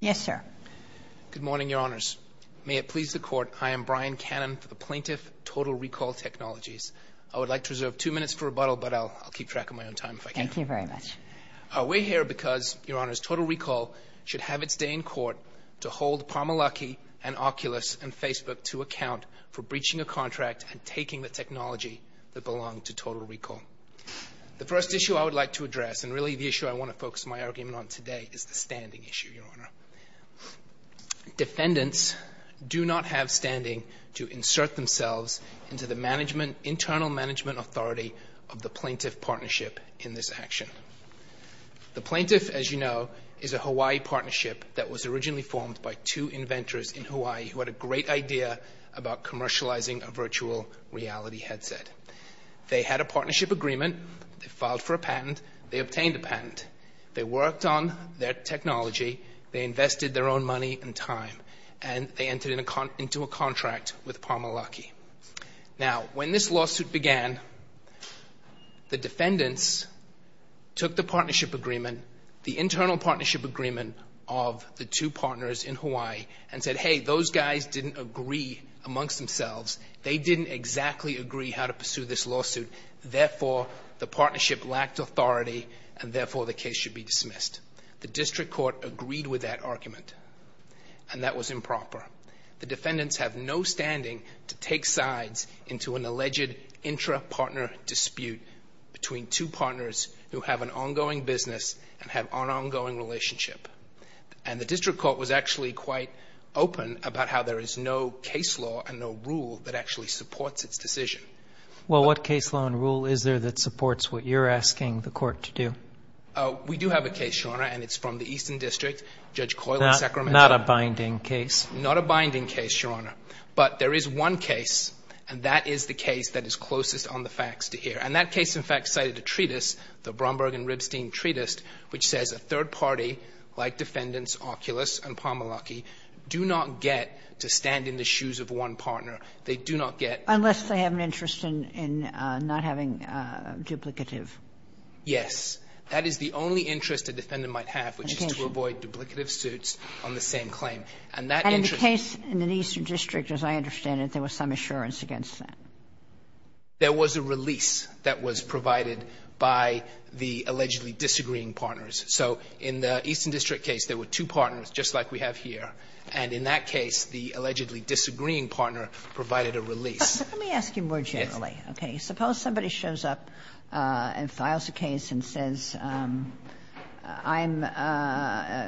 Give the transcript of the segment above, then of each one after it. Yes, sir. Good morning, Your Honours. May it please the Court, I am Brian Cannon for the plaintiff, Total Recall Technologies. I would like to reserve two minutes for rebuttal, but I'll keep track of my own time if I can. Thank you very much. We're here because, Your Honours, Total Recall should have its day in court to hold Palmer Luckey and Oculus and Facebook to account for breaching a contract and taking the technology that belonged to Total Recall. The first issue I would like to address, and really the issue I want to focus my argument on today, is the standing issue, Your Honour. Defendants do not have standing to insert themselves into the internal management authority of the plaintiff partnership in this action. The plaintiff, as you know, is a Hawaii partnership that was originally formed by two inventors in Hawaii who had a great idea about commercializing a virtual reality headset. They had a partnership agreement, they filed for a patent, they obtained a patent, they worked on their technology, they invested their own money and time, and they entered into a contract with Palmer Luckey. Now, when this lawsuit began, the defendants took the partnership agreement, the internal partnership agreement, of the two partners in Hawaii and said, hey, those guys didn't agree amongst themselves. They didn't exactly agree how to pursue this lawsuit. Therefore, the partnership lacked authority, and therefore the case should be dismissed. The district court agreed with that argument, and that was improper. The defendants have no standing to take sides into an alleged intra-partner dispute between two partners who have an ongoing business and have an ongoing relationship. And the district court was actually quite open about how there is no case law and no rule that actually supports its decision. Well, what case law and rule is there that supports what you're asking the court to do? We do have a case, Your Honor, and it's from the Eastern District, Judge Coyle in Sacramento. Not a binding case? Not a binding case, Your Honor. But there is one case, and that is the case that is closest on the facts to here. And that case, in fact, cited a treatise, the Bromberg and Ribstein treatise, which says a third party, like defendants Oculus and Pomoloky, do not get to stand in the shoes of one partner. They do not get to stand in the shoes of one partner. Unless they have an interest in not having duplicative. Yes. That is the only interest a defendant might have, which is to avoid duplicative suits on the same claim. And in the case in the Eastern District, as I understand it, there was some assurance against that. There was a release that was provided by the allegedly disagreeing partners. So in the Eastern District case, there were two partners, just like we have here. And in that case, the allegedly disagreeing partner provided a release. Let me ask you more generally. Yes. Okay. Suppose somebody shows up and files a case and says, I'm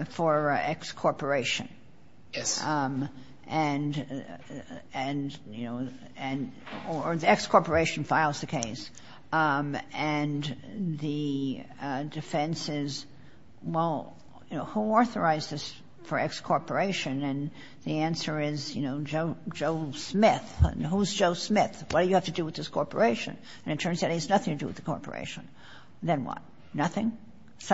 for X corporation. Yes. And, you know, or the X corporation files the case. And the defense is, well, who authorized this for X corporation? And the answer is, you know, Joe Smith. Who's Joe Smith? What do you have to do with this corporation? And it turns out he has nothing to do with the corporation. Then what? Nothing?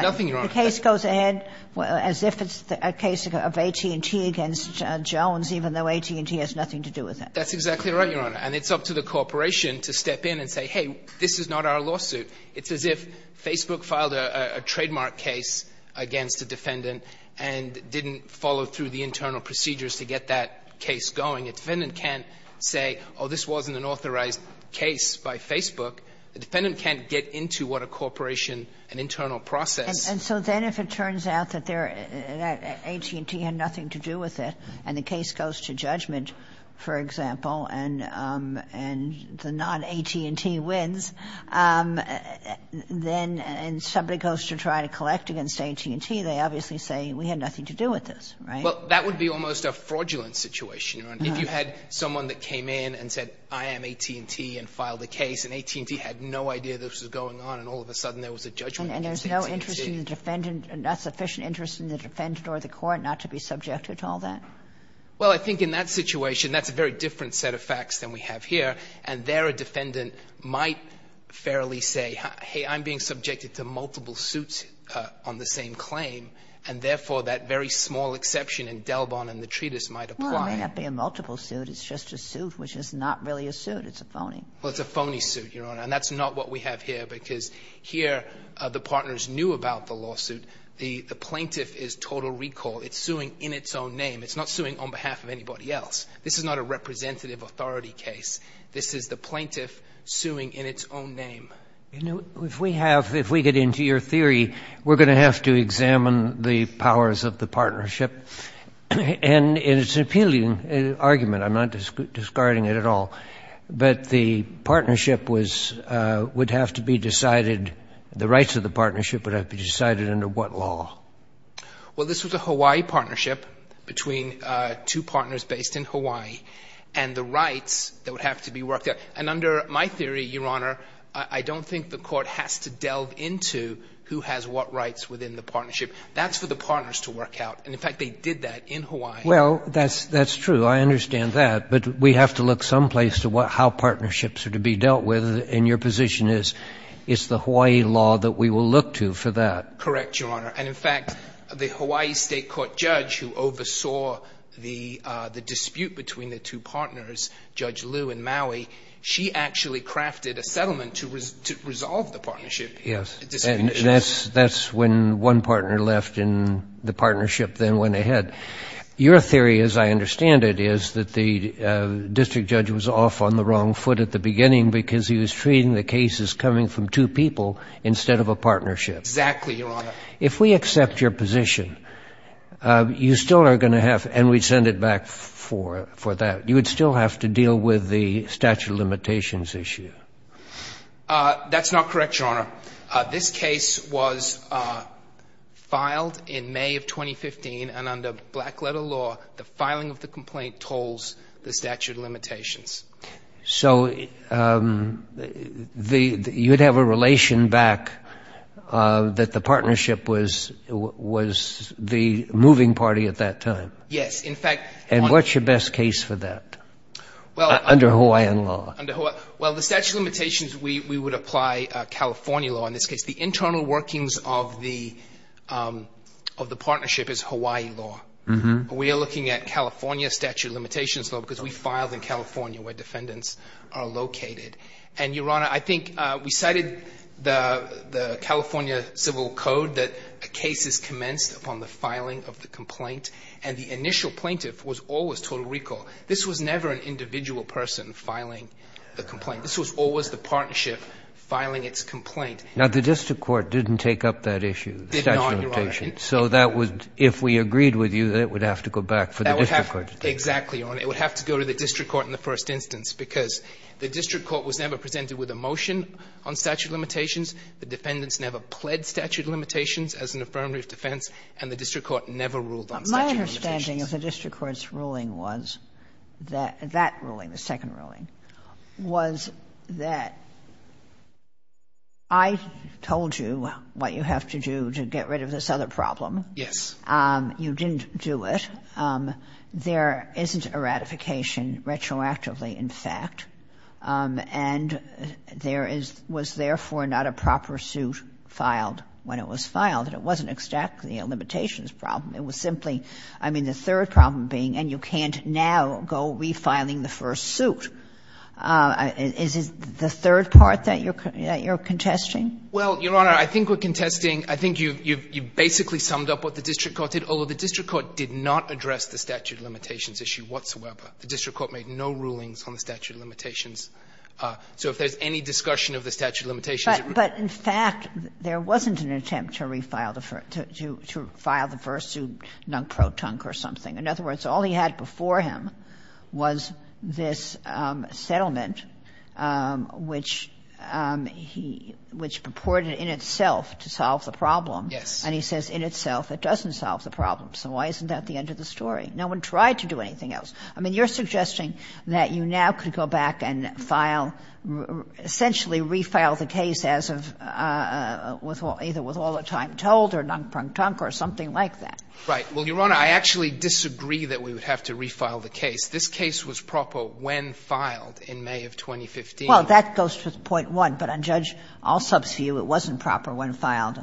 Nothing, Your Honor. The case goes ahead as if it's a case of AT&T against Jones, even though AT&T has nothing to do with that. That's exactly right, Your Honor. And it's up to the corporation to step in and say, hey, this is not our lawsuit. It's as if Facebook filed a trademark case against a defendant and didn't follow through the internal procedures to get that case going. A defendant can't say, oh, this wasn't an authorized case by Facebook. A defendant can't get into what a corporation, an internal process. And so then if it turns out that AT&T had nothing to do with it and the case goes to judgment, for example, and the non-AT&T wins, then somebody goes to try to collect against AT&T, they obviously say we had nothing to do with this, right? Well, that would be almost a fraudulent situation, Your Honor. If you had someone that came in and said, I am AT&T, and filed a case, and AT&T had no idea this was going on, and all of a sudden there was a judgment against AT&T. And there's no interest in the defendant, not sufficient interest in the defendant or the court not to be subjected to all that? Well, I think in that situation, that's a very different set of facts than we have here, and there a defendant might fairly say, hey, I'm being subjected to multiple suits on the same claim, and therefore that very small exception in Delbon and the treatise might apply. Well, it may not be a multiple suit. It's just a suit, which is not really a suit. Well, it's a phony suit, Your Honor. And that's not what we have here, because here the partners knew about the lawsuit. The plaintiff is total recall. It's suing in its own name. It's not suing on behalf of anybody else. This is not a representative authority case. This is the plaintiff suing in its own name. If we have, if we get into your theory, we're going to have to examine the powers of the partnership. And it's an appealing argument. I'm not discarding it at all. But the partnership was, would have to be decided, the rights of the partnership would have to be decided under what law? Well, this was a Hawaii partnership between two partners based in Hawaii, and the rights that would have to be worked out. And under my theory, Your Honor, I don't think the Court has to delve into who has what rights within the partnership. That's for the partners to work out. And, in fact, they did that in Hawaii. Well, that's true. I understand that. But we have to look someplace to how partnerships are to be dealt with, and your position is it's the Hawaii law that we will look to for that. Correct, Your Honor. And, in fact, the Hawaii State Court judge who oversaw the dispute between the two partners, Judge Liu and Maui, she actually crafted a settlement to resolve the partnership. Yes. And that's when one partner left and the partnership then went ahead. Your theory, as I understand it, is that the district judge was off on the wrong foot at the beginning because he was treating the cases coming from two people instead of a partnership. Exactly, Your Honor. If we accept your position, you still are going to have, and we send it back for that, you would still have to deal with the statute of limitations issue. That's not correct, Your Honor. This case was filed in May of 2015, and under black-letter law, the filing of the complaint tolls the statute of limitations. So you would have a relation back that the partnership was the moving party at that time? Yes. In fact — And what's your best case for that under Hawaiian law? Well, the statute of limitations, we would apply California law in this case. The internal workings of the partnership is Hawaii law. We are looking at California statute of limitations law because we filed in California where defendants are located. And, Your Honor, I think we cited the California Civil Code that a case is commenced upon the filing of the complaint, and the initial plaintiff was always total recall. This was never an individual person filing the complaint. This was always the partnership filing its complaint. Now, the district court didn't take up that issue, the statute of limitations. It did not, Your Honor. So that would, if we agreed with you, that it would have to go back for the district court to take it? Exactly, Your Honor. It would have to go to the district court in the first instance because the district court was never presented with a motion on statute of limitations, the defendants never pled statute of limitations as an affirmative defense, and the district court never ruled on statute of limitations. But my understanding of the district court's ruling was that that ruling, the second ruling, was that I told you what you have to do to get rid of this other problem. Yes. You didn't do it. There isn't a ratification retroactively, in fact, and there is — was therefore not a proper suit filed when it was filed, and it wasn't exactly a limitations problem. It was simply, I mean, the third problem being, and you can't now go refiling the first suit. Is it the third part that you're contesting? Well, Your Honor, I think we're contesting — I think you basically summed up what the district court did. Although the district court did not address the statute of limitations issue whatsoever. The district court made no rulings on the statute of limitations. So if there's any discussion of the statute of limitations— But in fact, there wasn't an attempt to refile the first — to file the first suit non-pro-tunk or something. In other words, all he had before him was this settlement, which he — which purported in itself to solve the problem. Yes. And he says in itself it doesn't solve the problem. So why isn't that the end of the story? No one tried to do anything else. I mean, you're suggesting that you now could go back and file — essentially refile the case as of — either with all the time told or non-pro-tunk or something like that. Right. Well, Your Honor, I actually disagree that we would have to refile the case. This case was proper when filed in May of 2015. Well, that goes to point one. But on Judge Alsop's view, it wasn't proper when filed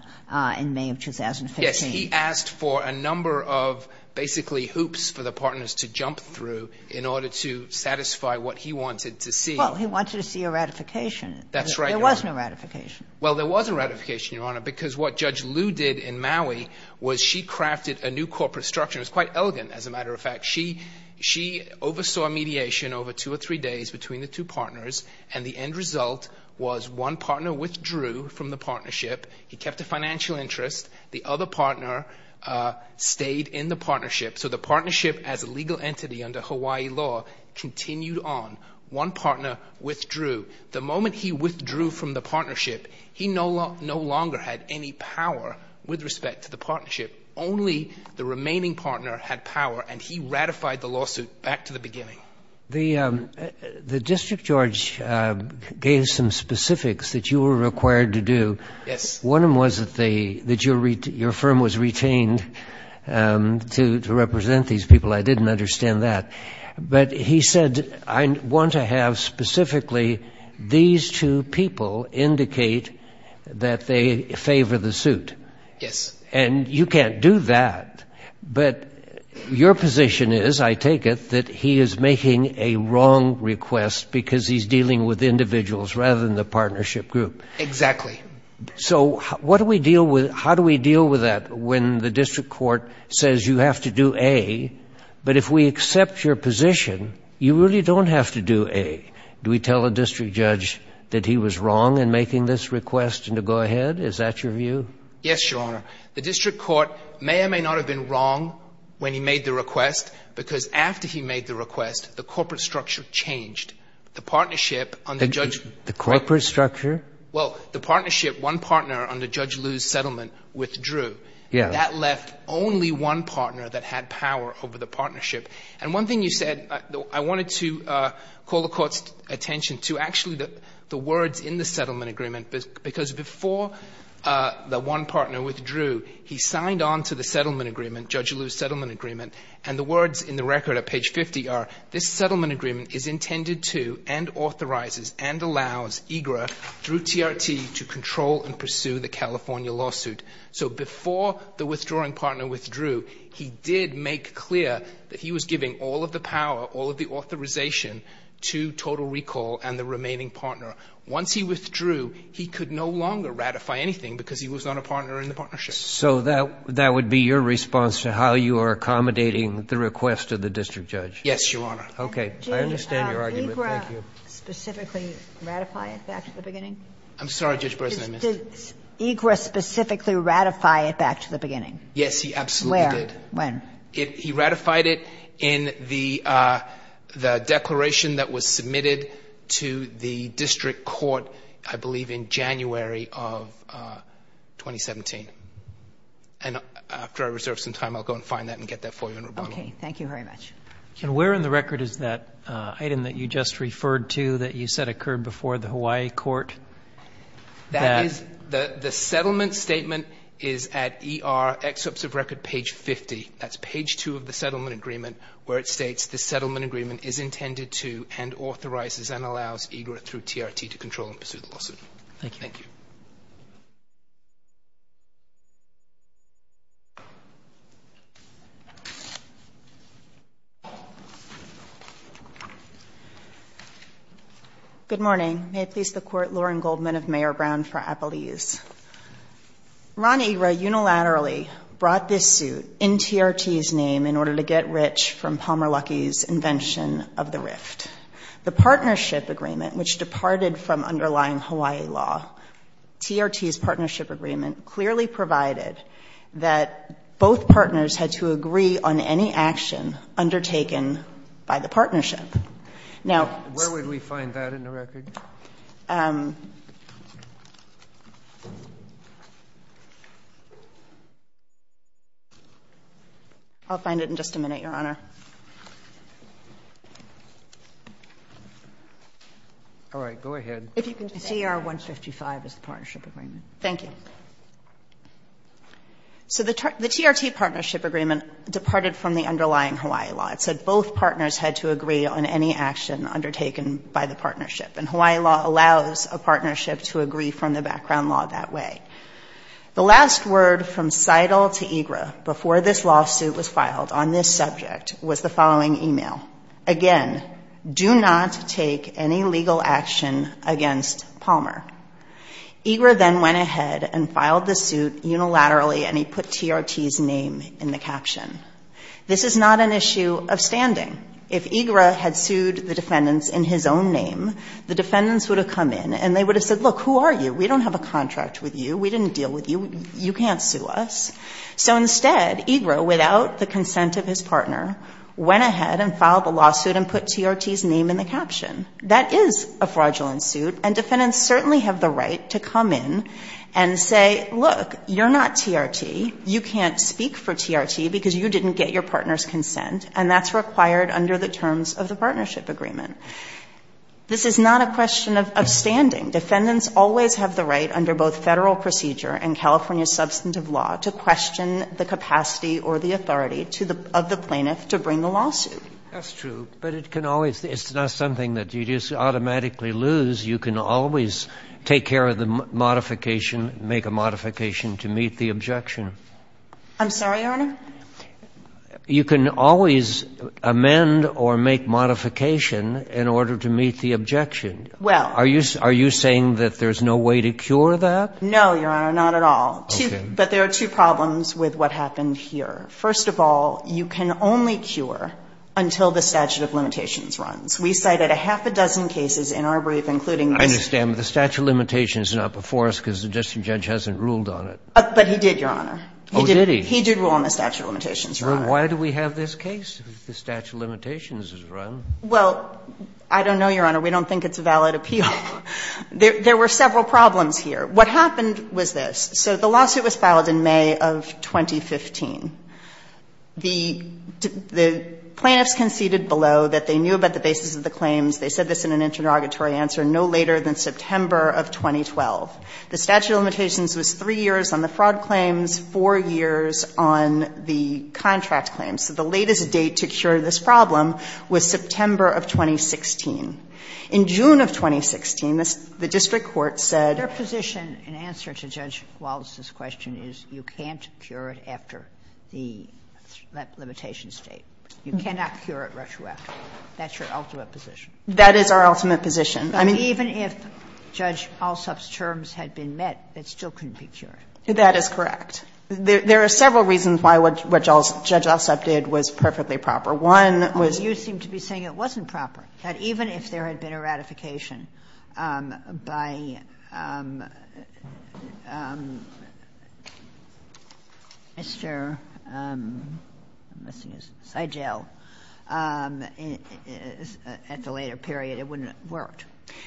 in May of 2015. Yes. He asked for a number of basically hoops for the partners to jump through in order to satisfy what he wanted to see. Well, he wanted to see a ratification. That's right, Your Honor. There was no ratification. Well, there was a ratification, Your Honor, because what Judge Liu did in Maui was she crafted a new corporate structure. It was quite elegant, as a matter of fact. She — she oversaw mediation over two or three days between the two partners, and the end result was one partner withdrew from the partnership. He kept a financial interest. The other partner stayed in the partnership. So the partnership as a legal entity under Hawaii law continued on. One partner withdrew. The moment he withdrew from the partnership, he no longer had any power with respect to the partnership. Only the remaining partner had power, and he ratified the lawsuit back to the beginning. The District Judge gave some specifics that you were required to do. Yes. One of them was that your firm was retained to represent these people. I didn't understand that. But he said, I want to have specifically these two people indicate that they favor the suit. Yes. And you can't do that, but your position is, I take it, that he is making a wrong request because he's dealing with individuals rather than the partnership group. Exactly. So what do we deal with — how do we deal with that when the district court says you have to do A, but if we accept your position, you really don't have to do A? Do we tell a district judge that he was wrong in making this request and to go ahead? Is that your view? Yes, Your Honor. The district court may or may not have been wrong when he made the request because after he made the request, the corporate structure changed. The partnership under Judge — The corporate structure? Well, the partnership, one partner under Judge Liu's settlement withdrew. Yes. That left only one partner that had power over the partnership. And one thing you said, I wanted to call the Court's attention to actually the words in the settlement agreement, because before the one partner withdrew, he signed on to the settlement agreement, Judge Liu's settlement agreement, and the words in the record at page 50 are, this settlement agreement is intended to and authorizes and allows EGRA through TRT to control and pursue the California lawsuit. So before the withdrawing partner withdrew, he did make clear that he was giving all of the power, all of the authorization to Total Recall and the remaining partner. Once he withdrew, he could no longer ratify anything because he was not a partner in the partnership. So that would be your response to how you are accommodating the request of the district judge? Yes, Your Honor. Okay. I understand your argument. Thank you. Did EGRA specifically ratify it back at the beginning? I'm sorry, Judge Bresnan, I missed it. Did EGRA specifically ratify it back to the beginning? Yes, he absolutely did. Where? When? He ratified it in the declaration that was submitted to the district court, I believe, in January of 2017. And after I reserve some time, I'll go and find that and get that for you in rebuttal. Okay. Thank you very much. And where in the record is that item that you just referred to that you said occurred before the Hawaii court? That is the settlement statement is at ER excerpts of record page 50. That's page 2 of the settlement agreement where it states the settlement agreement is intended to and authorizes and allows EGRA through TRT to control and pursue Thank you. Good morning. May it please the court, Lauren Goldman of Mayor Brown for Appaluse. Ron EGRA unilaterally brought this suit in TRT's name in order to get rich from Palmer Luckey's invention of the rift. The partnership agreement, which departed from underlying Hawaii law, TRT's partnership agreement clearly provided that both partners had to agree on any action undertaken by the partnership. Now, where would we find that in the record? I'll find it in just a minute, Your Honor. All right. Go ahead. CR 155 is the partnership agreement. Thank you. So the TRT partnership agreement departed from the underlying Hawaii law. It said both partners had to agree on any action undertaken by the partnership. And Hawaii law allows a partnership to agree from the background law that way. The last word from Seidel to EGRA before this lawsuit was filed on this subject was the following email. Again, do not take any legal action against Palmer. EGRA then went ahead and filed the suit unilaterally and he put TRT's name in the caption. This is not an issue of standing. If EGRA had sued the defendants in his own name, the defendants would have come in and they would have said, look, who are you? We don't have a contract with you. We didn't deal with you. You can't sue us. So instead, EGRA, without the consent of his partner, went ahead and filed the lawsuit and put TRT's name in the caption. That is a fraudulent suit and defendants certainly have the right to come in and say, look, you're not TRT. You can't speak for TRT because you didn't get your partner's consent and that's required under the terms of the partnership agreement. This is not a question of standing. Defendants always have the right under both Federal procedure and California substantive law to question the capacity or the authority of the plaintiff to bring the lawsuit. That's true, but it can always, it's not something that you just automatically lose. You can always take care of the modification, make a modification to meet the objection. I'm sorry, Your Honor? You can always amend or make modification in order to meet the objection. Well. Are you saying that there's no way to cure that? No, Your Honor, not at all. Okay. But there are two problems with what happened here. First of all, you can only cure until the statute of limitations runs. We cited a half a dozen cases in our brief, including this. I understand, but the statute of limitations is not before us because the justice judge hasn't ruled on it. But he did, Your Honor. Oh, did he? He did rule on the statute of limitations, Your Honor. Well, why do we have this case if the statute of limitations is run? Well, I don't know, Your Honor. We don't think it's a valid appeal. There were several problems here. What happened was this. So the lawsuit was filed in May of 2015. The plaintiffs conceded below that they knew about the basis of the claims. They said this in an interrogatory answer no later than September of 2012. The statute of limitations was three years on the fraud claims, four years on the contract claims. So the latest date to cure this problem was September of 2016. In June of 2016, the district court said. And their position in answer to Judge Wallace's question is you can't cure it after the limitation state. You cannot cure it retroactively. That's your ultimate position. That is our ultimate position. I mean, even if Judge Alsop's terms had been met, it still couldn't be cured. That is correct. There are several reasons why what Judge Alsop did was perfectly proper. One was. You seem to be saying it wasn't proper, that even if there had been a ratification by Mr. Seigel at the later period, it wouldn't have worked.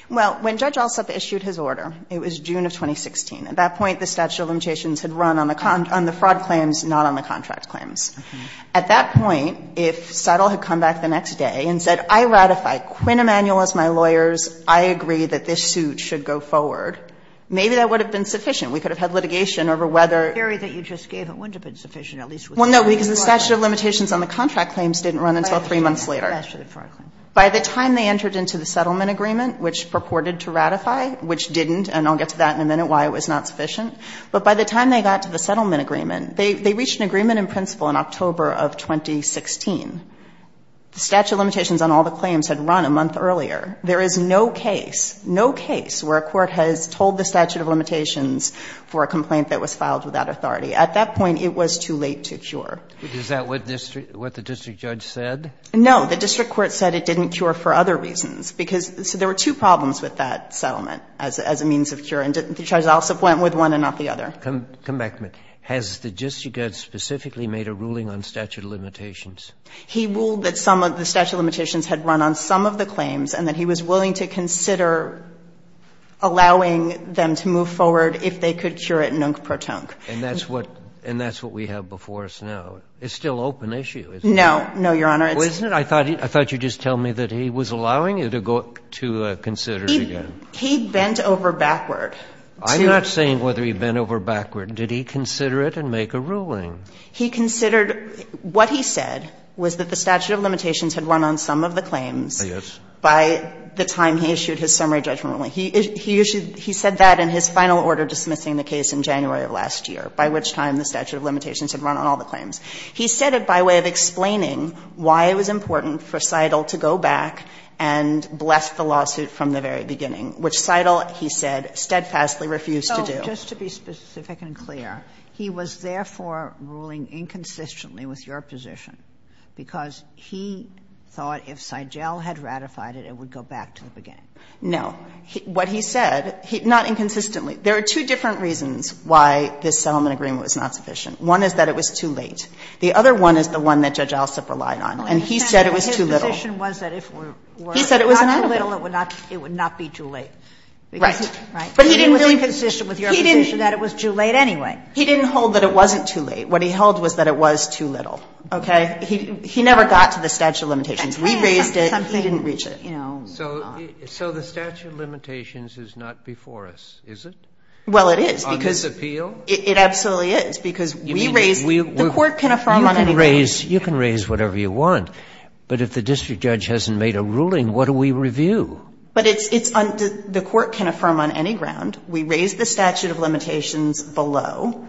Well, when Judge Alsop issued his order, it was June of 2016. At that point, the statute of limitations had run on the fraud claims, not on the contract claims. At that point, if Seigel had come back the next day and said, I ratify Quinn Emanuel as my lawyers. I agree that this suit should go forward. Maybe that would have been sufficient. We could have had litigation over whether. The theory that you just gave, it wouldn't have been sufficient, at least with the statute of limitations. Well, no, because the statute of limitations on the contract claims didn't run until three months later. By the time they entered into the settlement agreement, which purported to ratify, which didn't, and I'll get to that in a minute, why it was not sufficient. But by the time they got to the settlement agreement, they reached an agreement in principle in October of 2016. The statute of limitations on all the claims had run a month earlier. There is no case, no case where a court has told the statute of limitations for a complaint that was filed without authority. At that point, it was too late to cure. Is that what the district judge said? No. The district court said it didn't cure for other reasons. Because there were two problems with that settlement as a means of cure, and Judge Alsop went with one and not the other. Come back to me. Has the district judge specifically made a ruling on statute of limitations? He ruled that some of the statute of limitations had run on some of the claims and that he was willing to consider allowing them to move forward if they could cure it nunc pro tonc. And that's what we have before us now. It's still open issue, isn't it? No. No, Your Honor. Well, isn't it? I thought you were just telling me that he was allowing you to consider it again. He bent over backward. I'm not saying whether he bent over backward. Did he consider it and make a ruling? He considered what he said was that the statute of limitations had run on some of the claims by the time he issued his summary judgment ruling. He said that in his final order dismissing the case in January of last year, by which time the statute of limitations had run on all the claims. He said it by way of explaining why it was important for Seidel to go back and bless the lawsuit from the very beginning, which Seidel, he said, steadfastly refused to do. Just to be specific and clear, he was therefore ruling inconsistently with your position because he thought if Seidel had ratified it, it would go back to the beginning. No. What he said, not inconsistently. There are two different reasons why this settlement agreement was not sufficient. One is that it was too late. The other one is the one that Judge Alsop relied on, and he said it was too little. His position was that if it were not too little, it would not be too late. Right. Right. He didn't hold that it wasn't too late. What he held was that it was too little. Okay? He never got to the statute of limitations. We raised it. He didn't reach it. You know. So the statute of limitations is not before us, is it? Well, it is. On this appeal? It absolutely is, because we raised it. The Court can affirm on any ground. You can raise whatever you want, but if the district judge hasn't made a ruling, what do we review? But it's under the Court can affirm on any ground. We raised the statute of limitations below.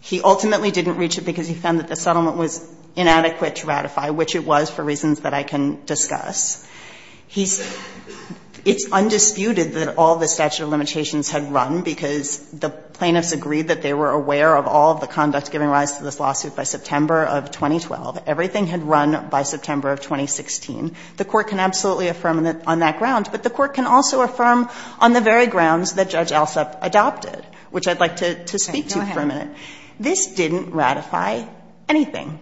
He ultimately didn't reach it because he found that the settlement was inadequate to ratify, which it was for reasons that I can discuss. He's undisputed that all the statute of limitations had run because the plaintiffs agreed that they were aware of all of the conducts giving rise to this lawsuit by September of 2012. Everything had run by September of 2016. The Court can absolutely affirm on that ground, but the Court can also affirm on the very grounds that Judge Alsup adopted, which I'd like to speak to for a minute. This didn't ratify anything.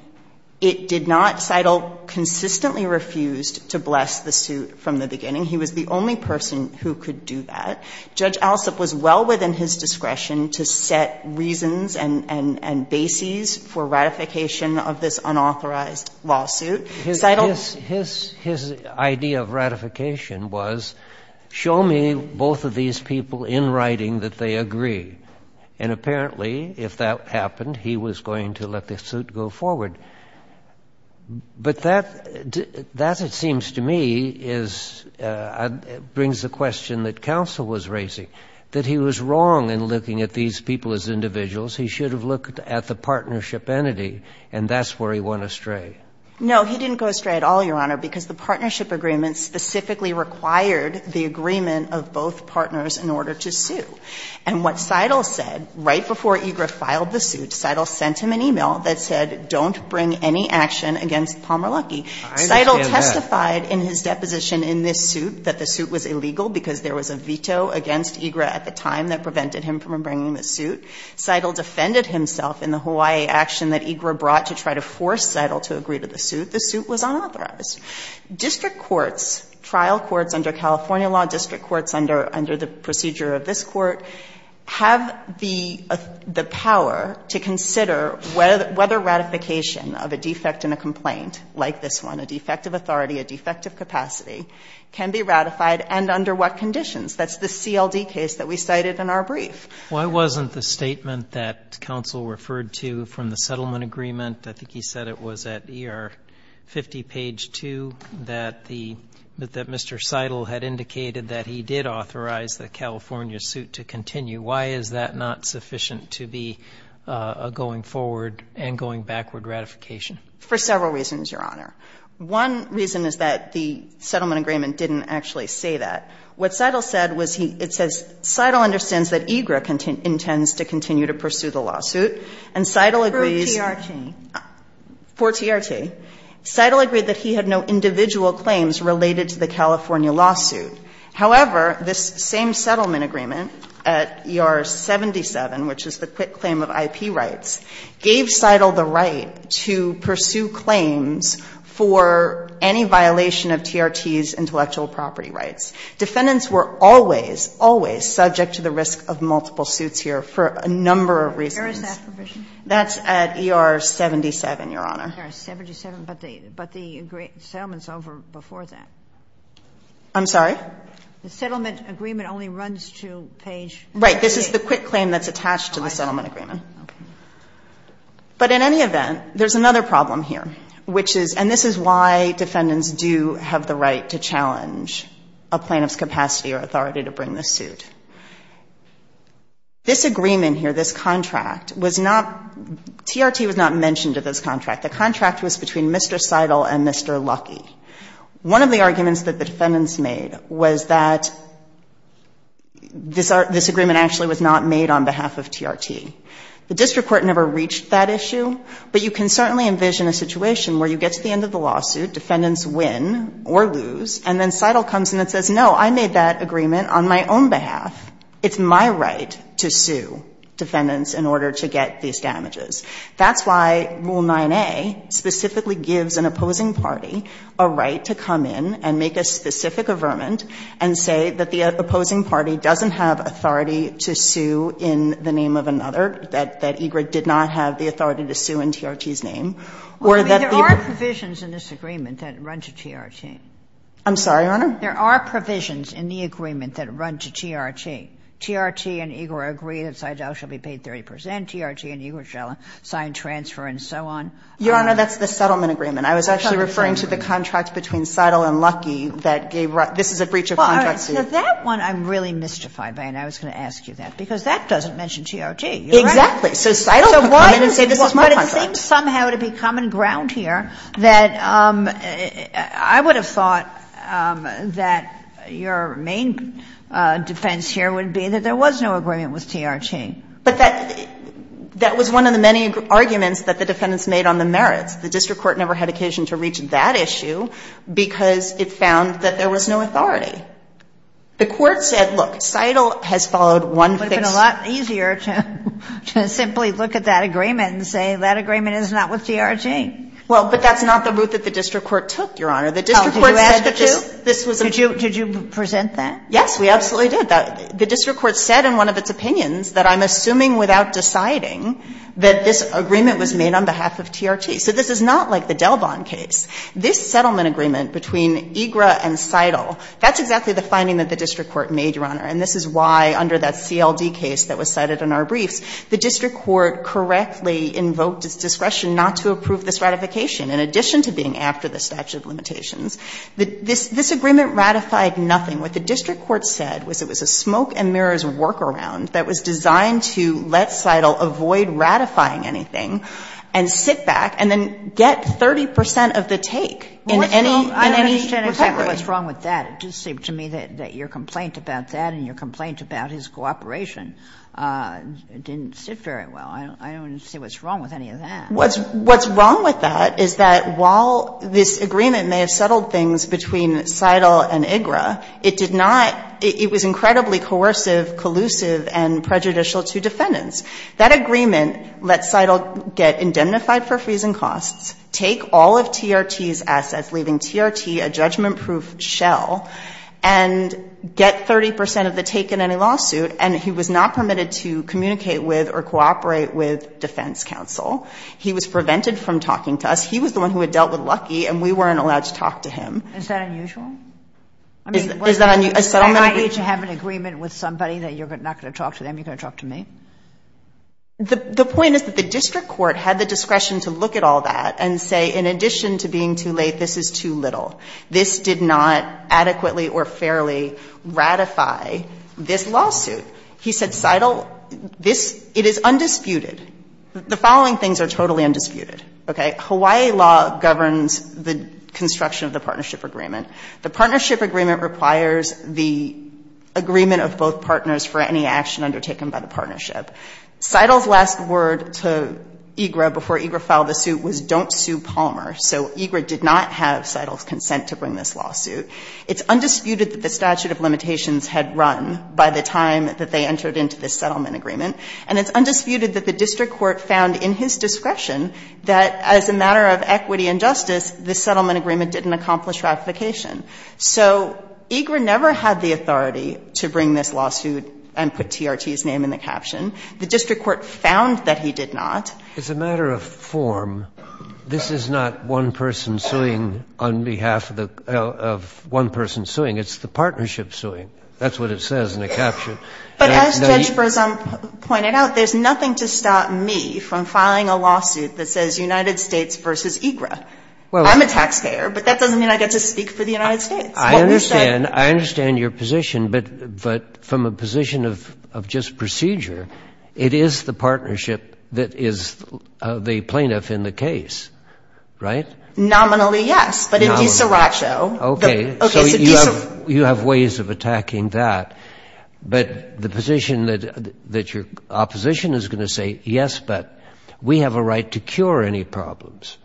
It did not. Seidel consistently refused to bless the suit from the beginning. He was the only person who could do that. Judge Alsup was well within his discretion to set reasons and bases for ratification of this unauthorized lawsuit. His idea of ratification was, show me both of these people in writing that they agree. And apparently, if that happened, he was going to let the suit go forward. But that, it seems to me, brings the question that counsel was raising, that he was wrong in looking at these people as individuals. He should have looked at the partnership entity, and that's where he went astray. No, he didn't go astray at all, Your Honor, because the partnership agreement specifically required the agreement of both partners in order to sue. And what Seidel said, right before EGRA filed the suit, Seidel sent him an e-mail that said, don't bring any action against Palmer Luckey. Seidel testified in his deposition in this suit that the suit was illegal because there was a veto against EGRA at the time that prevented him from bringing the suit. Seidel defended himself in the Hawaii action that EGRA brought to try to force Seidel to agree to the suit. The suit was unauthorized. District courts, trial courts under California law, district courts under the procedure of this court, have the power to consider whether ratification of a defect in a complaint like this one, a defect of authority, a defect of capacity, can be ratified and under what conditions. That's the CLD case that we cited in our brief. Why wasn't the statement that counsel referred to from the settlement agreement I think he said it was at ER 50 page 2, that the, that Mr. Seidel had indicated that he did authorize the California suit to continue. Why is that not sufficient to be a going forward and going backward ratification? For several reasons, Your Honor. One reason is that the settlement agreement didn't actually say that. What Seidel said was he, it says Seidel understands that EGRA intends to continue to pursue the lawsuit. And Seidel agrees. T.R.T. For T.R.T. Seidel agreed that he had no individual claims related to the California lawsuit. However, this same settlement agreement at ER 77, which is the quit claim of IP rights, gave Seidel the right to pursue claims for any violation of T.R.T.'s intellectual property rights. Defendants were always, always subject to the risk of multiple suits here for a number of reasons. Where is that provision? That's at ER 77, Your Honor. But the settlement's over before that. I'm sorry? The settlement agreement only runs to page 3. Right. This is the quit claim that's attached to the settlement agreement. Okay. But in any event, there's another problem here, which is, and this is why defendants do have the right to challenge a plaintiff's capacity or authority to bring the suit. This agreement here, this contract, was not, T.R.T. was not mentioned to this contract. The contract was between Mr. Seidel and Mr. Luckey. One of the arguments that the defendants made was that this agreement actually was not made on behalf of T.R.T. The district court never reached that issue, but you can certainly envision a situation where you get to the end of the lawsuit, defendants win or lose, and then Seidel comes in and says, no, I made that agreement on my own behalf. It's my right to sue defendants in order to get these damages. That's why Rule 9a specifically gives an opposing party a right to come in and make a specific affirmant and say that the opposing party doesn't have authority to sue in the name of another, that Egrett did not have the authority to sue in T.R.T.'s name, or that the other. I mean, there are provisions in this agreement that run to T.R.T. I'm sorry, Your Honor? There are provisions in the agreement that run to T.R.T. T.R.T. and Egrett agree that Seidel shall be paid 30 percent, T.R.T. and Egrett shall sign transfer and so on. Your Honor, that's the settlement agreement. I was actually referring to the contract between Seidel and Luckey that gave – this is a breach of contract. Well, all right. So that one I'm really mystified by, and I was going to ask you that, because that doesn't mention T.R.T. Exactly. So Seidel could come in and say, this is my contract. But it seems somehow to be common ground here that I would have thought that your main defense here would be that there was no agreement with T.R.T. But that was one of the many arguments that the defendants made on the merits. The district court never had occasion to reach that issue because it found that there was no authority. The court said, look, Seidel has followed one fix. It would be a lot easier to simply look at that agreement and say that agreement is not with T.R.T. Well, but that's not the route that the district court took, Your Honor. The district court said that this was a – Did you present that? Yes, we absolutely did. The district court said in one of its opinions that I'm assuming without deciding that this agreement was made on behalf of T.R.T. So this is not like the Delbon case. This settlement agreement between Egrett and Seidel, that's exactly the finding that the district court made, Your Honor. And this is why under that CLD case that was cited in our briefs, the district court correctly invoked its discretion not to approve this ratification, in addition to being after the statute of limitations. This agreement ratified nothing. What the district court said was it was a smoke-and-mirrors workaround that was designed to let Seidel avoid ratifying anything and sit back and then get 30 percent of the take in any – I don't understand exactly what's wrong with that. It just seemed to me that your complaint about that and your complaint about his cooperation didn't sit very well. I don't see what's wrong with any of that. What's wrong with that is that while this agreement may have settled things between Seidel and Egrett, it did not – it was incredibly coercive, collusive, and prejudicial to defendants. That agreement let Seidel get indemnified for freezing costs, take all of T.R.T.'s assets, leaving T.R.T. a judgment-proof shell, and get 30 percent of the take in any lawsuit. And he was not permitted to communicate with or cooperate with defense counsel. He was prevented from talking to us. He was the one who had dealt with Luckey, and we weren't allowed to talk to him. Is that unusual? Is that unusual? A settlement agreement? I mean, what – I.E. to have an agreement with somebody that you're not going to talk to them, you're going to talk to me? The point is that the district court had the discretion to look at all that and say, in addition to being too late, this is too little. This did not adequately or fairly ratify this lawsuit. He said, Seidel, this – it is undisputed. The following things are totally undisputed, okay? Hawaii law governs the construction of the partnership agreement. The partnership agreement requires the agreement of both partners for any action undertaken by the partnership. Seidel's last word to EGRA before EGRA filed the suit was, don't sue Palmer. So EGRA did not have Seidel's consent to bring this lawsuit. It's undisputed that the statute of limitations had run by the time that they entered into this settlement agreement, and it's undisputed that the district court found in his discretion that, as a matter of equity and justice, this settlement agreement didn't accomplish ratification. So EGRA never had the authority to bring this lawsuit and put TRT's name in the caption. The district court found that he did not. It's a matter of form. This is not one person suing on behalf of one person suing. It's the partnership suing. That's what it says in the caption. But as Judge Bresom pointed out, there's nothing to stop me from filing a lawsuit that says United States v. EGRA. I'm a taxpayer, but that doesn't mean I get to speak for the United States. I understand. I understand your position. But from a position of just procedure, it is the partnership that is the plaintiff in the case, right? Nominally. But in DiSaraccio, the — Okay. So you have ways of attacking that. But the position that your opposition is going to say, yes, but we have a right to cure any problems.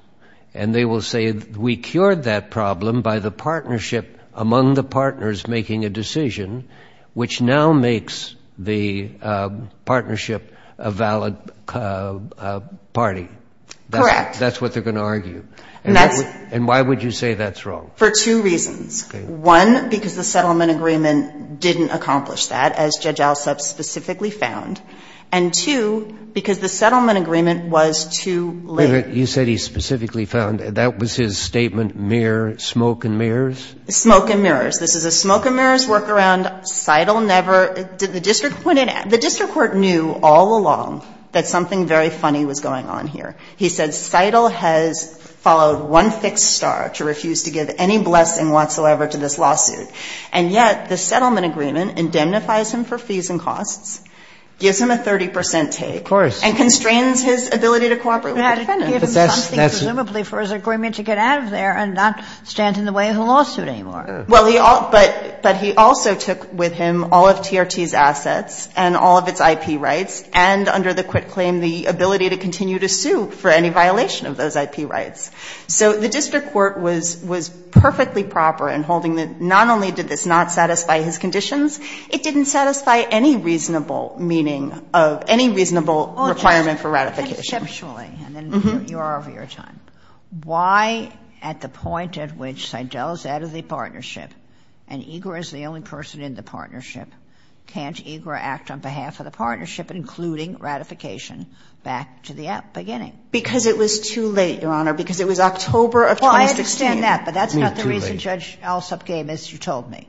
And they will say, we cured that problem by the partnership among the partners making a decision, which now makes the partnership a valid party. Correct. That's what they're going to argue. And that's — And why would you say that's wrong? For two reasons. One, because the settlement agreement didn't accomplish that, as Judge Alsup specifically found. And two, because the settlement agreement was too late. Wait a minute. You said he specifically found. That was his statement mere smoke and mirrors? Smoke and mirrors. This is a smoke and mirrors workaround. Seidel never — the district court knew all along that something very funny was going on here. He said Seidel has followed one fixed star to refuse to give any blessing whatsoever to this lawsuit. And yet the settlement agreement indemnifies him for fees and costs, gives him a 30 percent take — Of course. — and constrains his ability to cooperate with the defendant. But that's — Presumably for his agreement to get out of there and not stand in the way of the lawsuit anymore. Well, he — but he also took with him all of TRT's assets and all of its IP rights and, under the quit claim, the ability to continue to sue for any violation of those IP rights. So the district court was perfectly proper in holding that not only did this not satisfy his conditions, it didn't satisfy any reasonable meaning of any reasonable requirement for ratification. Exceptionally, and then you are over your time. Why, at the point at which Seidel is out of the partnership and EGRA is the only person in the partnership, can't EGRA act on behalf of the partnership, including ratification, back to the beginning? Because it was too late, Your Honor, because it was October of 2016. Well, I understand that, but that's not the reason Judge Alsop came, as you told me.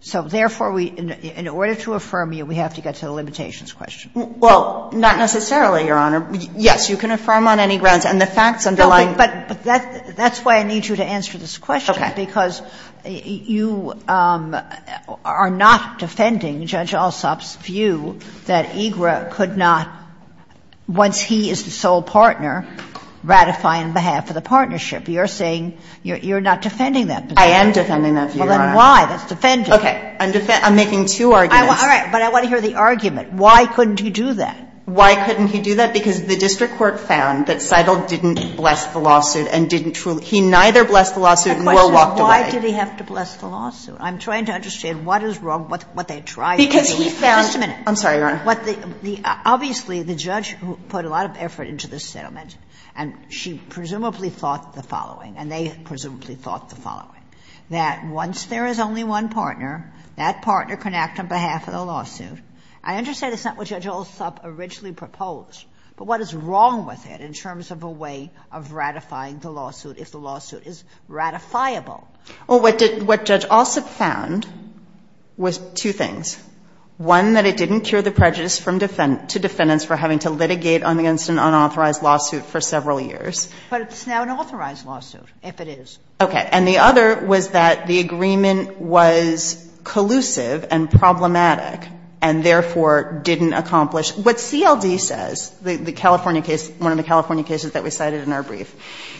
So therefore, we — in order to affirm you, we have to get to the limitations question. Well, not necessarily, Your Honor. Yes, you can affirm on any grounds, and the facts underlying — But that's why I need you to answer this question. Okay. Because you are not defending Judge Alsop's view that EGRA could not, once he is the sole partner, ratify on behalf of the partnership. You're saying you're not defending that position. I am defending that view, Your Honor. Well, then why? That's defending. I'm making two arguments. All right. But I want to hear the argument. Why couldn't he do that? Why couldn't he do that? Because the district court found that Seidel didn't bless the lawsuit and didn't truly — he neither blessed the lawsuit nor walked away. The question is, why did he have to bless the lawsuit? I'm trying to understand what is wrong with what they tried to do. Because he found — Just a minute. I'm sorry, Your Honor. Obviously, the judge who put a lot of effort into this settlement, and she presumably thought the following, and they presumably thought the following, that once there is only one partner, that partner can act on behalf of the lawsuit. I understand it's not what Judge Alsop originally proposed. But what is wrong with it in terms of a way of ratifying the lawsuit, if the lawsuit is ratifiable? Well, what Judge Alsop found was two things. One, that it didn't cure the prejudice to defendants for having to litigate against an unauthorized lawsuit for several years. But it's now an authorized lawsuit, if it is. Okay. And the other was that the agreement was collusive and problematic, and therefore didn't accomplish what CLD says, the California case, one of the California cases that we cited in our brief.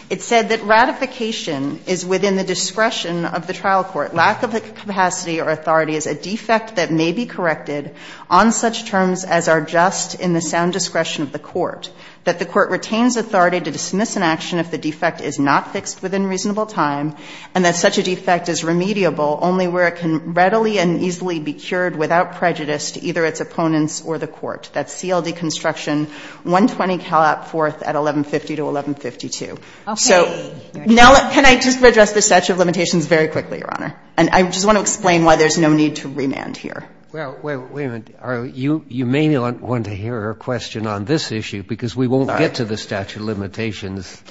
It said that ratification is within the discretion of the trial court. Lack of capacity or authority is a defect that may be corrected on such terms as are just in the sound discretion of the court. That the court retains authority to dismiss an action if the defect is not fixed within reasonable time, and that such a defect is remediable only where it can readily and easily be cured without prejudice to either its opponents or the court. That's CLD construction, 120 Calapforth at 1150 to 1152. Okay. So now can I just address the statute of limitations very quickly, Your Honor? And I just want to explain why there's no need to remand here. Well, wait a minute. You may want to hear her question on this issue because we won't get to the statute of limitations.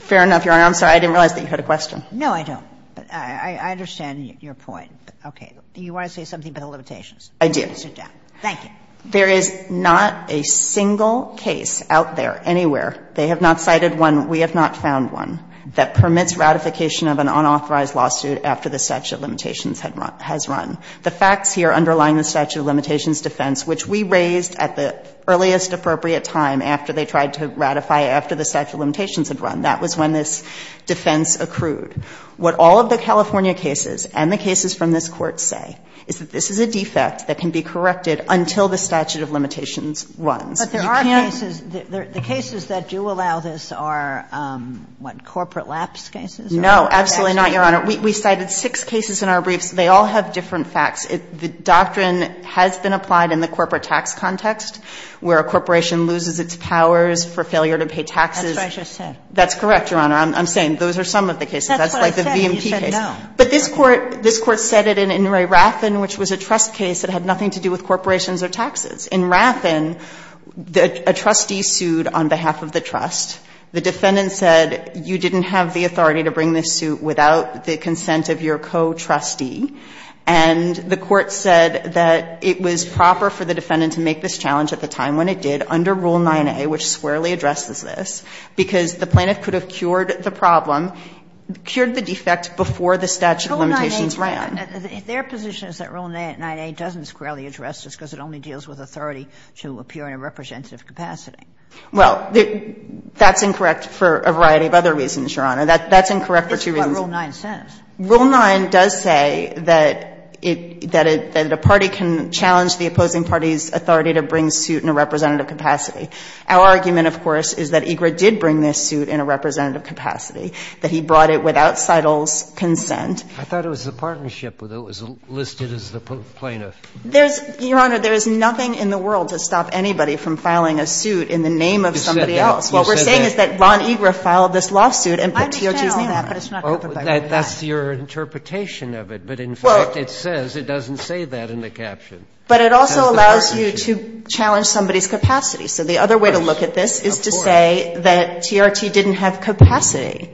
Fair enough, Your Honor. I'm sorry, I didn't realize that you had a question. No, I don't. But I understand your point. Okay. Do you want to say something about the limitations? I do. Sit down. Thank you. There is not a single case out there anywhere, they have not cited one, we have not found one, that permits ratification of an unauthorized lawsuit after the statute of limitations has run. The facts here underlying the statute of limitations defense, which we raised at the earliest appropriate time after they tried to ratify after the statute of limitations had run. That was when this defense accrued. What all of the California cases and the cases from this Court say is that this is a defect that can be corrected until the statute of limitations runs. But there are cases, the cases that do allow this are, what, corporate lapse cases? No, absolutely not, Your Honor. We cited six cases in our briefs. They all have different facts. The doctrine has been applied in the corporate tax context where a corporation loses its powers for failure to pay taxes. That's what I just said. That's correct, Your Honor. I'm saying those are some of the cases. That's like the VMT case. That's what I said. You said no. But this Court said it in Ray Rathen, which was a trust case that had nothing to do with corporations or taxes. In Rathen, a trustee sued on behalf of the trust. The defendant said you didn't have the authority to bring this suit without the consent of your co-trustee. And the Court said that it was proper for the defendant to make this challenge at the time when it did, under Rule 9a, which squarely addresses this, because the plaintiff could have cured the problem, cured the defect before the statute of limitations ran. Rule 9a, their position is that Rule 9a doesn't squarely address this because it only deals with authority to appear in a representative capacity. Well, that's incorrect for a variety of other reasons, Your Honor. That's incorrect for two reasons. It's what Rule 9 says. Rule 9 does say that a party can challenge the opposing party's authority to bring this suit in a representative capacity. Our argument, of course, is that EGRA did bring this suit in a representative capacity, that he brought it without Seidel's consent. I thought it was the partnership that was listed as the plaintiff. There's, Your Honor, there's nothing in the world to stop anybody from filing a suit in the name of somebody else. You said that. You said that. What we're saying is that Ron EGRA filed this lawsuit and put TOT's name on it. I'm challenging that, but it's not covered by Rule 9. That's your interpretation of it. But in fact, it says it doesn't say that in the caption. But it also allows you to challenge somebody's capacity. So the other way to look at this is to say that TRT didn't have capacity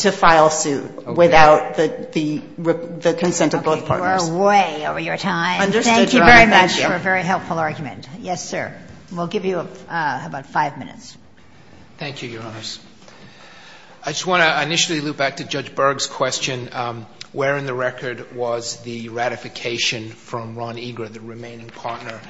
to file a suit without the consent of both partners. Okay. You are way over your time. Understood, Your Honor. Thank you very much for a very helpful argument. Yes, sir. We'll give you about 5 minutes. Thank you, Your Honors. I just want to initially loop back to Judge Berg's question, where in the record was the ratification from Ron EGRA, the remaining partner.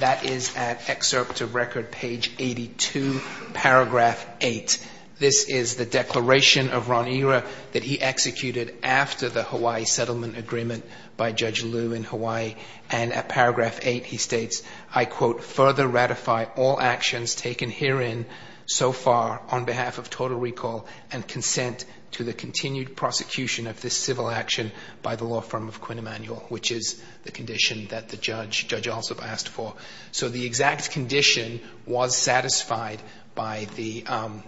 That is at excerpt of record page 82, paragraph 8. This is the declaration of Ron EGRA that he executed after the Hawaii settlement agreement by Judge Liu in Hawaii. And at paragraph 8, he states, I quote, by the law firm of Quinn Emanuel, which is the condition that the judge also asked for. So the exact condition was satisfied by the partner.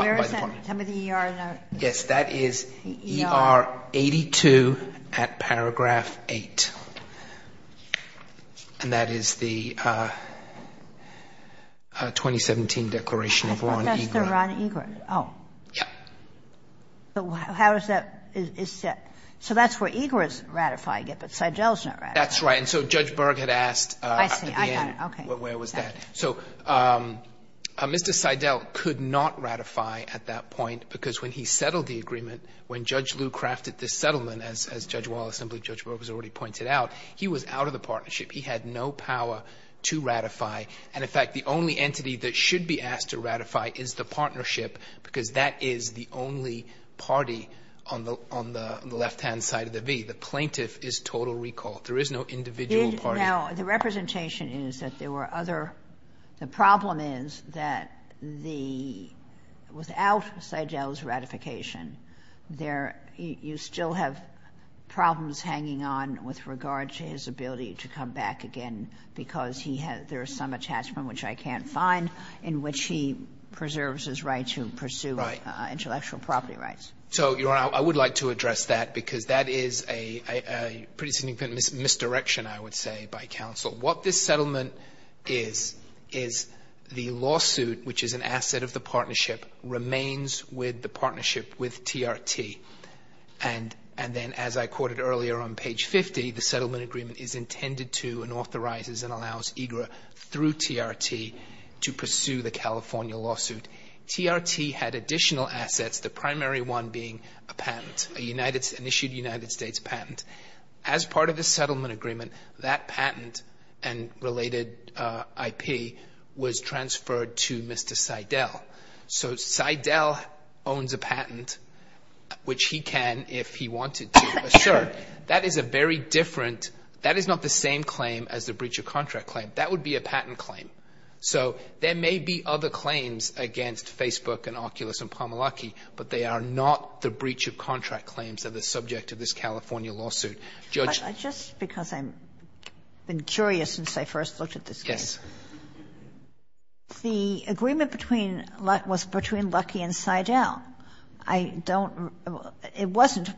Where is that? Yes, that is ER 82 at paragraph 8. And that is the 2017 declaration of Ron Egret. I thought that's the Ron Egret. Oh. Yes. How is that? So that's where Egret is ratifying it, but Seidel is not ratifying it. That's right. And so Judge Berg had asked at the end where was that. I see. I got it. Okay. So Mr. Seidel could not ratify at that point because when he settled the agreement, when Judge Lew crafted this settlement, as Judge Wallace and Judge Berg has already pointed out, he was out of the partnership. He had no power to ratify. And, in fact, the only entity that should be asked to ratify is the partnership because that is the only party on the left-hand side of the V. The plaintiff is total recall. There is no individual party. Now, the representation is that there were other. The problem is that the, without Seidel's ratification, there, you still have problems hanging on with regard to his ability to come back again because he has, there's some attachment, which I can't find, in which he preserves his right to pursue intellectual property rights. Right. So, Your Honor, I would like to address that because that is a pretty significant misdirection, I would say, by counsel. What this settlement is, is the lawsuit, which is an asset of the partnership, remains with the partnership with TRT. And then, as I quoted earlier on page 50, the settlement agreement is intended to and authorizes and allows EGRA through TRT to pursue the California lawsuit. TRT had additional assets, the primary one being a patent, an issued United States patent. As part of the settlement agreement, that patent and related IP was transferred to Mr. Seidel. So, Seidel owns a patent, which he can, if he wanted to, assert. That is a very different, that is not the same claim as the breach of contract claim. That would be a patent claim. So, there may be other claims against Facebook and Oculus and Pamelaki, but they are not the breach of contract claims that are subject to this California lawsuit. Judge. Kagan. Just because I've been curious since I first looked at this case. Yes. The agreement between, was between Luckey and Seidel. I don't, it wasn't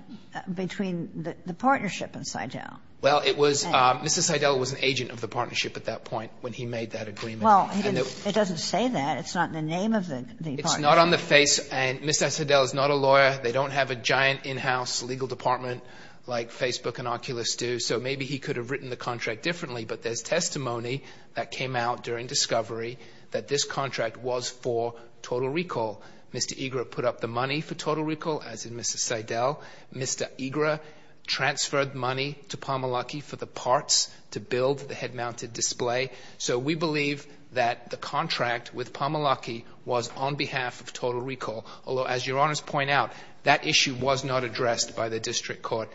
between the partnership and Seidel. Well, it was, Mr. Seidel was an agent of the partnership at that point when he made that agreement. Well, it doesn't say that. It's not in the name of the partnership. It's not on the face, and Mr. Seidel is not a lawyer. They don't have a giant in-house legal department like Facebook and Oculus do. So, maybe he could have written the contract differently, but there's testimony that came out during discovery that this contract was for Total Recall. Mr. Ygra put up the money for Total Recall, as in Mr. Seidel. Mr. Ygra transferred money to Pamelaki for the parts to build the head-mounted display. So, we believe that the contract with Pamelaki was on behalf of Total Recall. Although, as Your Honors point out, that issue was not addressed by the district court.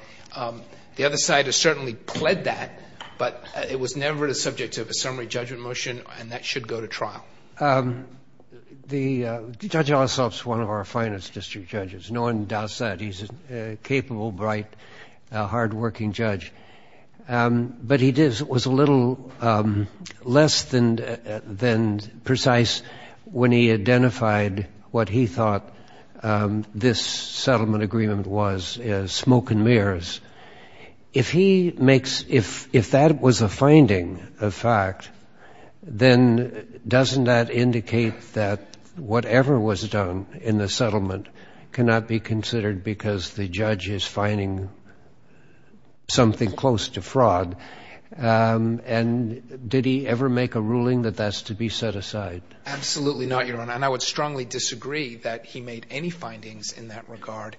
The other side has certainly pled that, but it was never the subject of a summary judgment motion, and that should go to trial. The Judge Ossoff is one of our finest district judges. No one doubts that. He's a capable, bright, hardworking judge. But he was a little less than precise when he identified what he thought this settlement agreement was as smoke and mirrors. If that was a finding of fact, then doesn't that indicate that whatever was done in the case was a fraud? Absolutely not, Your Honor. And I would strongly disagree that he made any findings in that regard.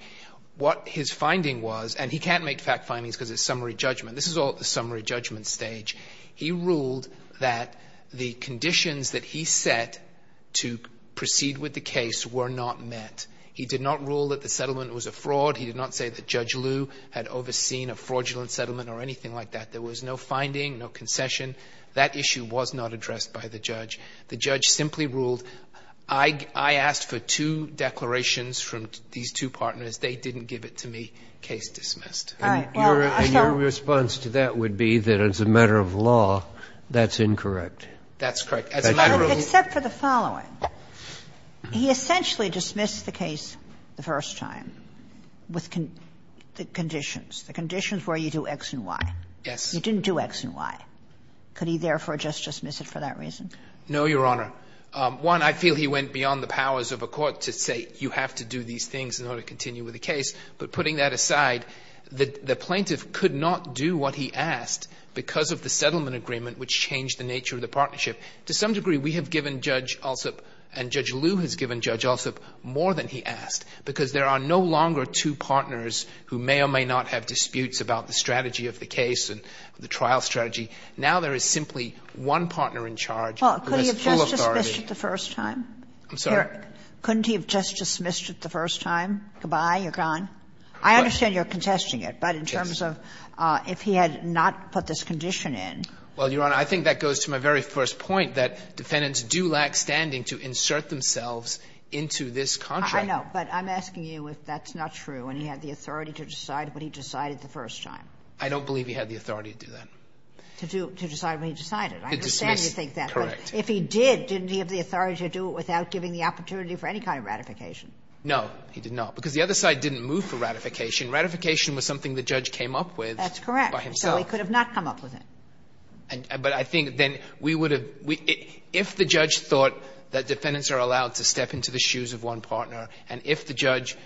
What his finding was, and he can't make fact findings because it's summary judgment. This is all at the summary judgment stage. He ruled that the conditions that he set to proceed with the case were not met. He did not rule that the settlement was a fraud. He did not say that Judge Liu had overseen a fraudulent settlement or anything like that. There was no finding, no concession. That issue was not addressed by the judge. The judge simply ruled, I asked for two declarations from these two partners. They didn't give it to me. Case dismissed. And your response to that would be that as a matter of law, that's incorrect. That's correct. Except for the following. He essentially dismissed the case the first time with the conditions, the conditions where you do X and Y. Yes. You didn't do X and Y. Could he therefore just dismiss it for that reason? No, Your Honor. One, I feel he went beyond the powers of a court to say you have to do these things in order to continue with the case. But putting that aside, the plaintiff could not do what he asked because of the settlement agreement, which changed the nature of the partnership. To some degree, we have given Judge Alsup and Judge Liu has given Judge Alsup more than he asked because there are no longer two partners who may or may not have disputes about the strategy of the case and the trial strategy. Now there is simply one partner in charge who has full authority. Well, couldn't he have just dismissed it the first time? I'm sorry? Couldn't he have just dismissed it the first time? Goodbye, you're gone. I understand you're contesting it, but in terms of if he had not put this condition Well, Your Honor, I think that goes to my very first point, that defendants do lack standing to insert themselves into this contract. I know. But I'm asking you if that's not true and he had the authority to decide what he decided the first time. I don't believe he had the authority to do that. To decide what he decided. To dismiss. I understand you think that. Correct. But if he did, didn't he have the authority to do it without giving the opportunity for any kind of ratification? No, he did not. Because the other side didn't move for ratification. Ratification was something the judge came up with by himself. That's correct. So he could have not come up with it. But I think then we would have, if the judge thought that defendants are allowed to step into the shoes of one partner and if the judge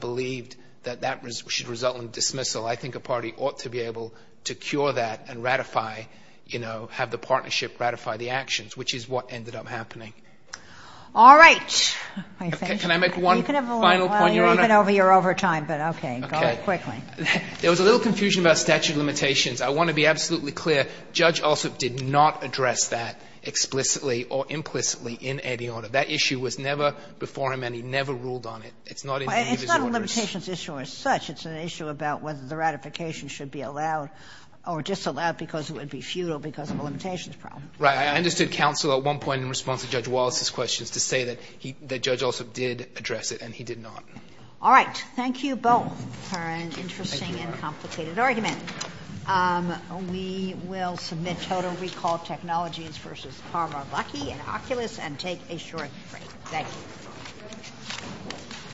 believed that that should result in dismissal, I think a party ought to be able to cure that and ratify, you know, have the partnership ratify the actions, which is what ended up happening. All right. Can I make one final point, Your Honor? You're even over your overtime, but okay. Go quickly. There was a little confusion about statute of limitations. I want to be absolutely clear. Judge Alsup did not address that explicitly or implicitly in any order. That issue was never before him and he never ruled on it. It's not in any of his orders. It's not a limitations issue as such. It's an issue about whether the ratification should be allowed or disallowed because it would be futile because of a limitations problem. Right. I understood counsel at one point in response to Judge Wallace's questions to say that Judge Alsup did address it and he did not. All right. Thank you both for an interesting and complicated argument. Thank you, Your Honor. We will submit Total Recall Technologies v. Palmer Luckey and Oculus and take a short break. Thank you.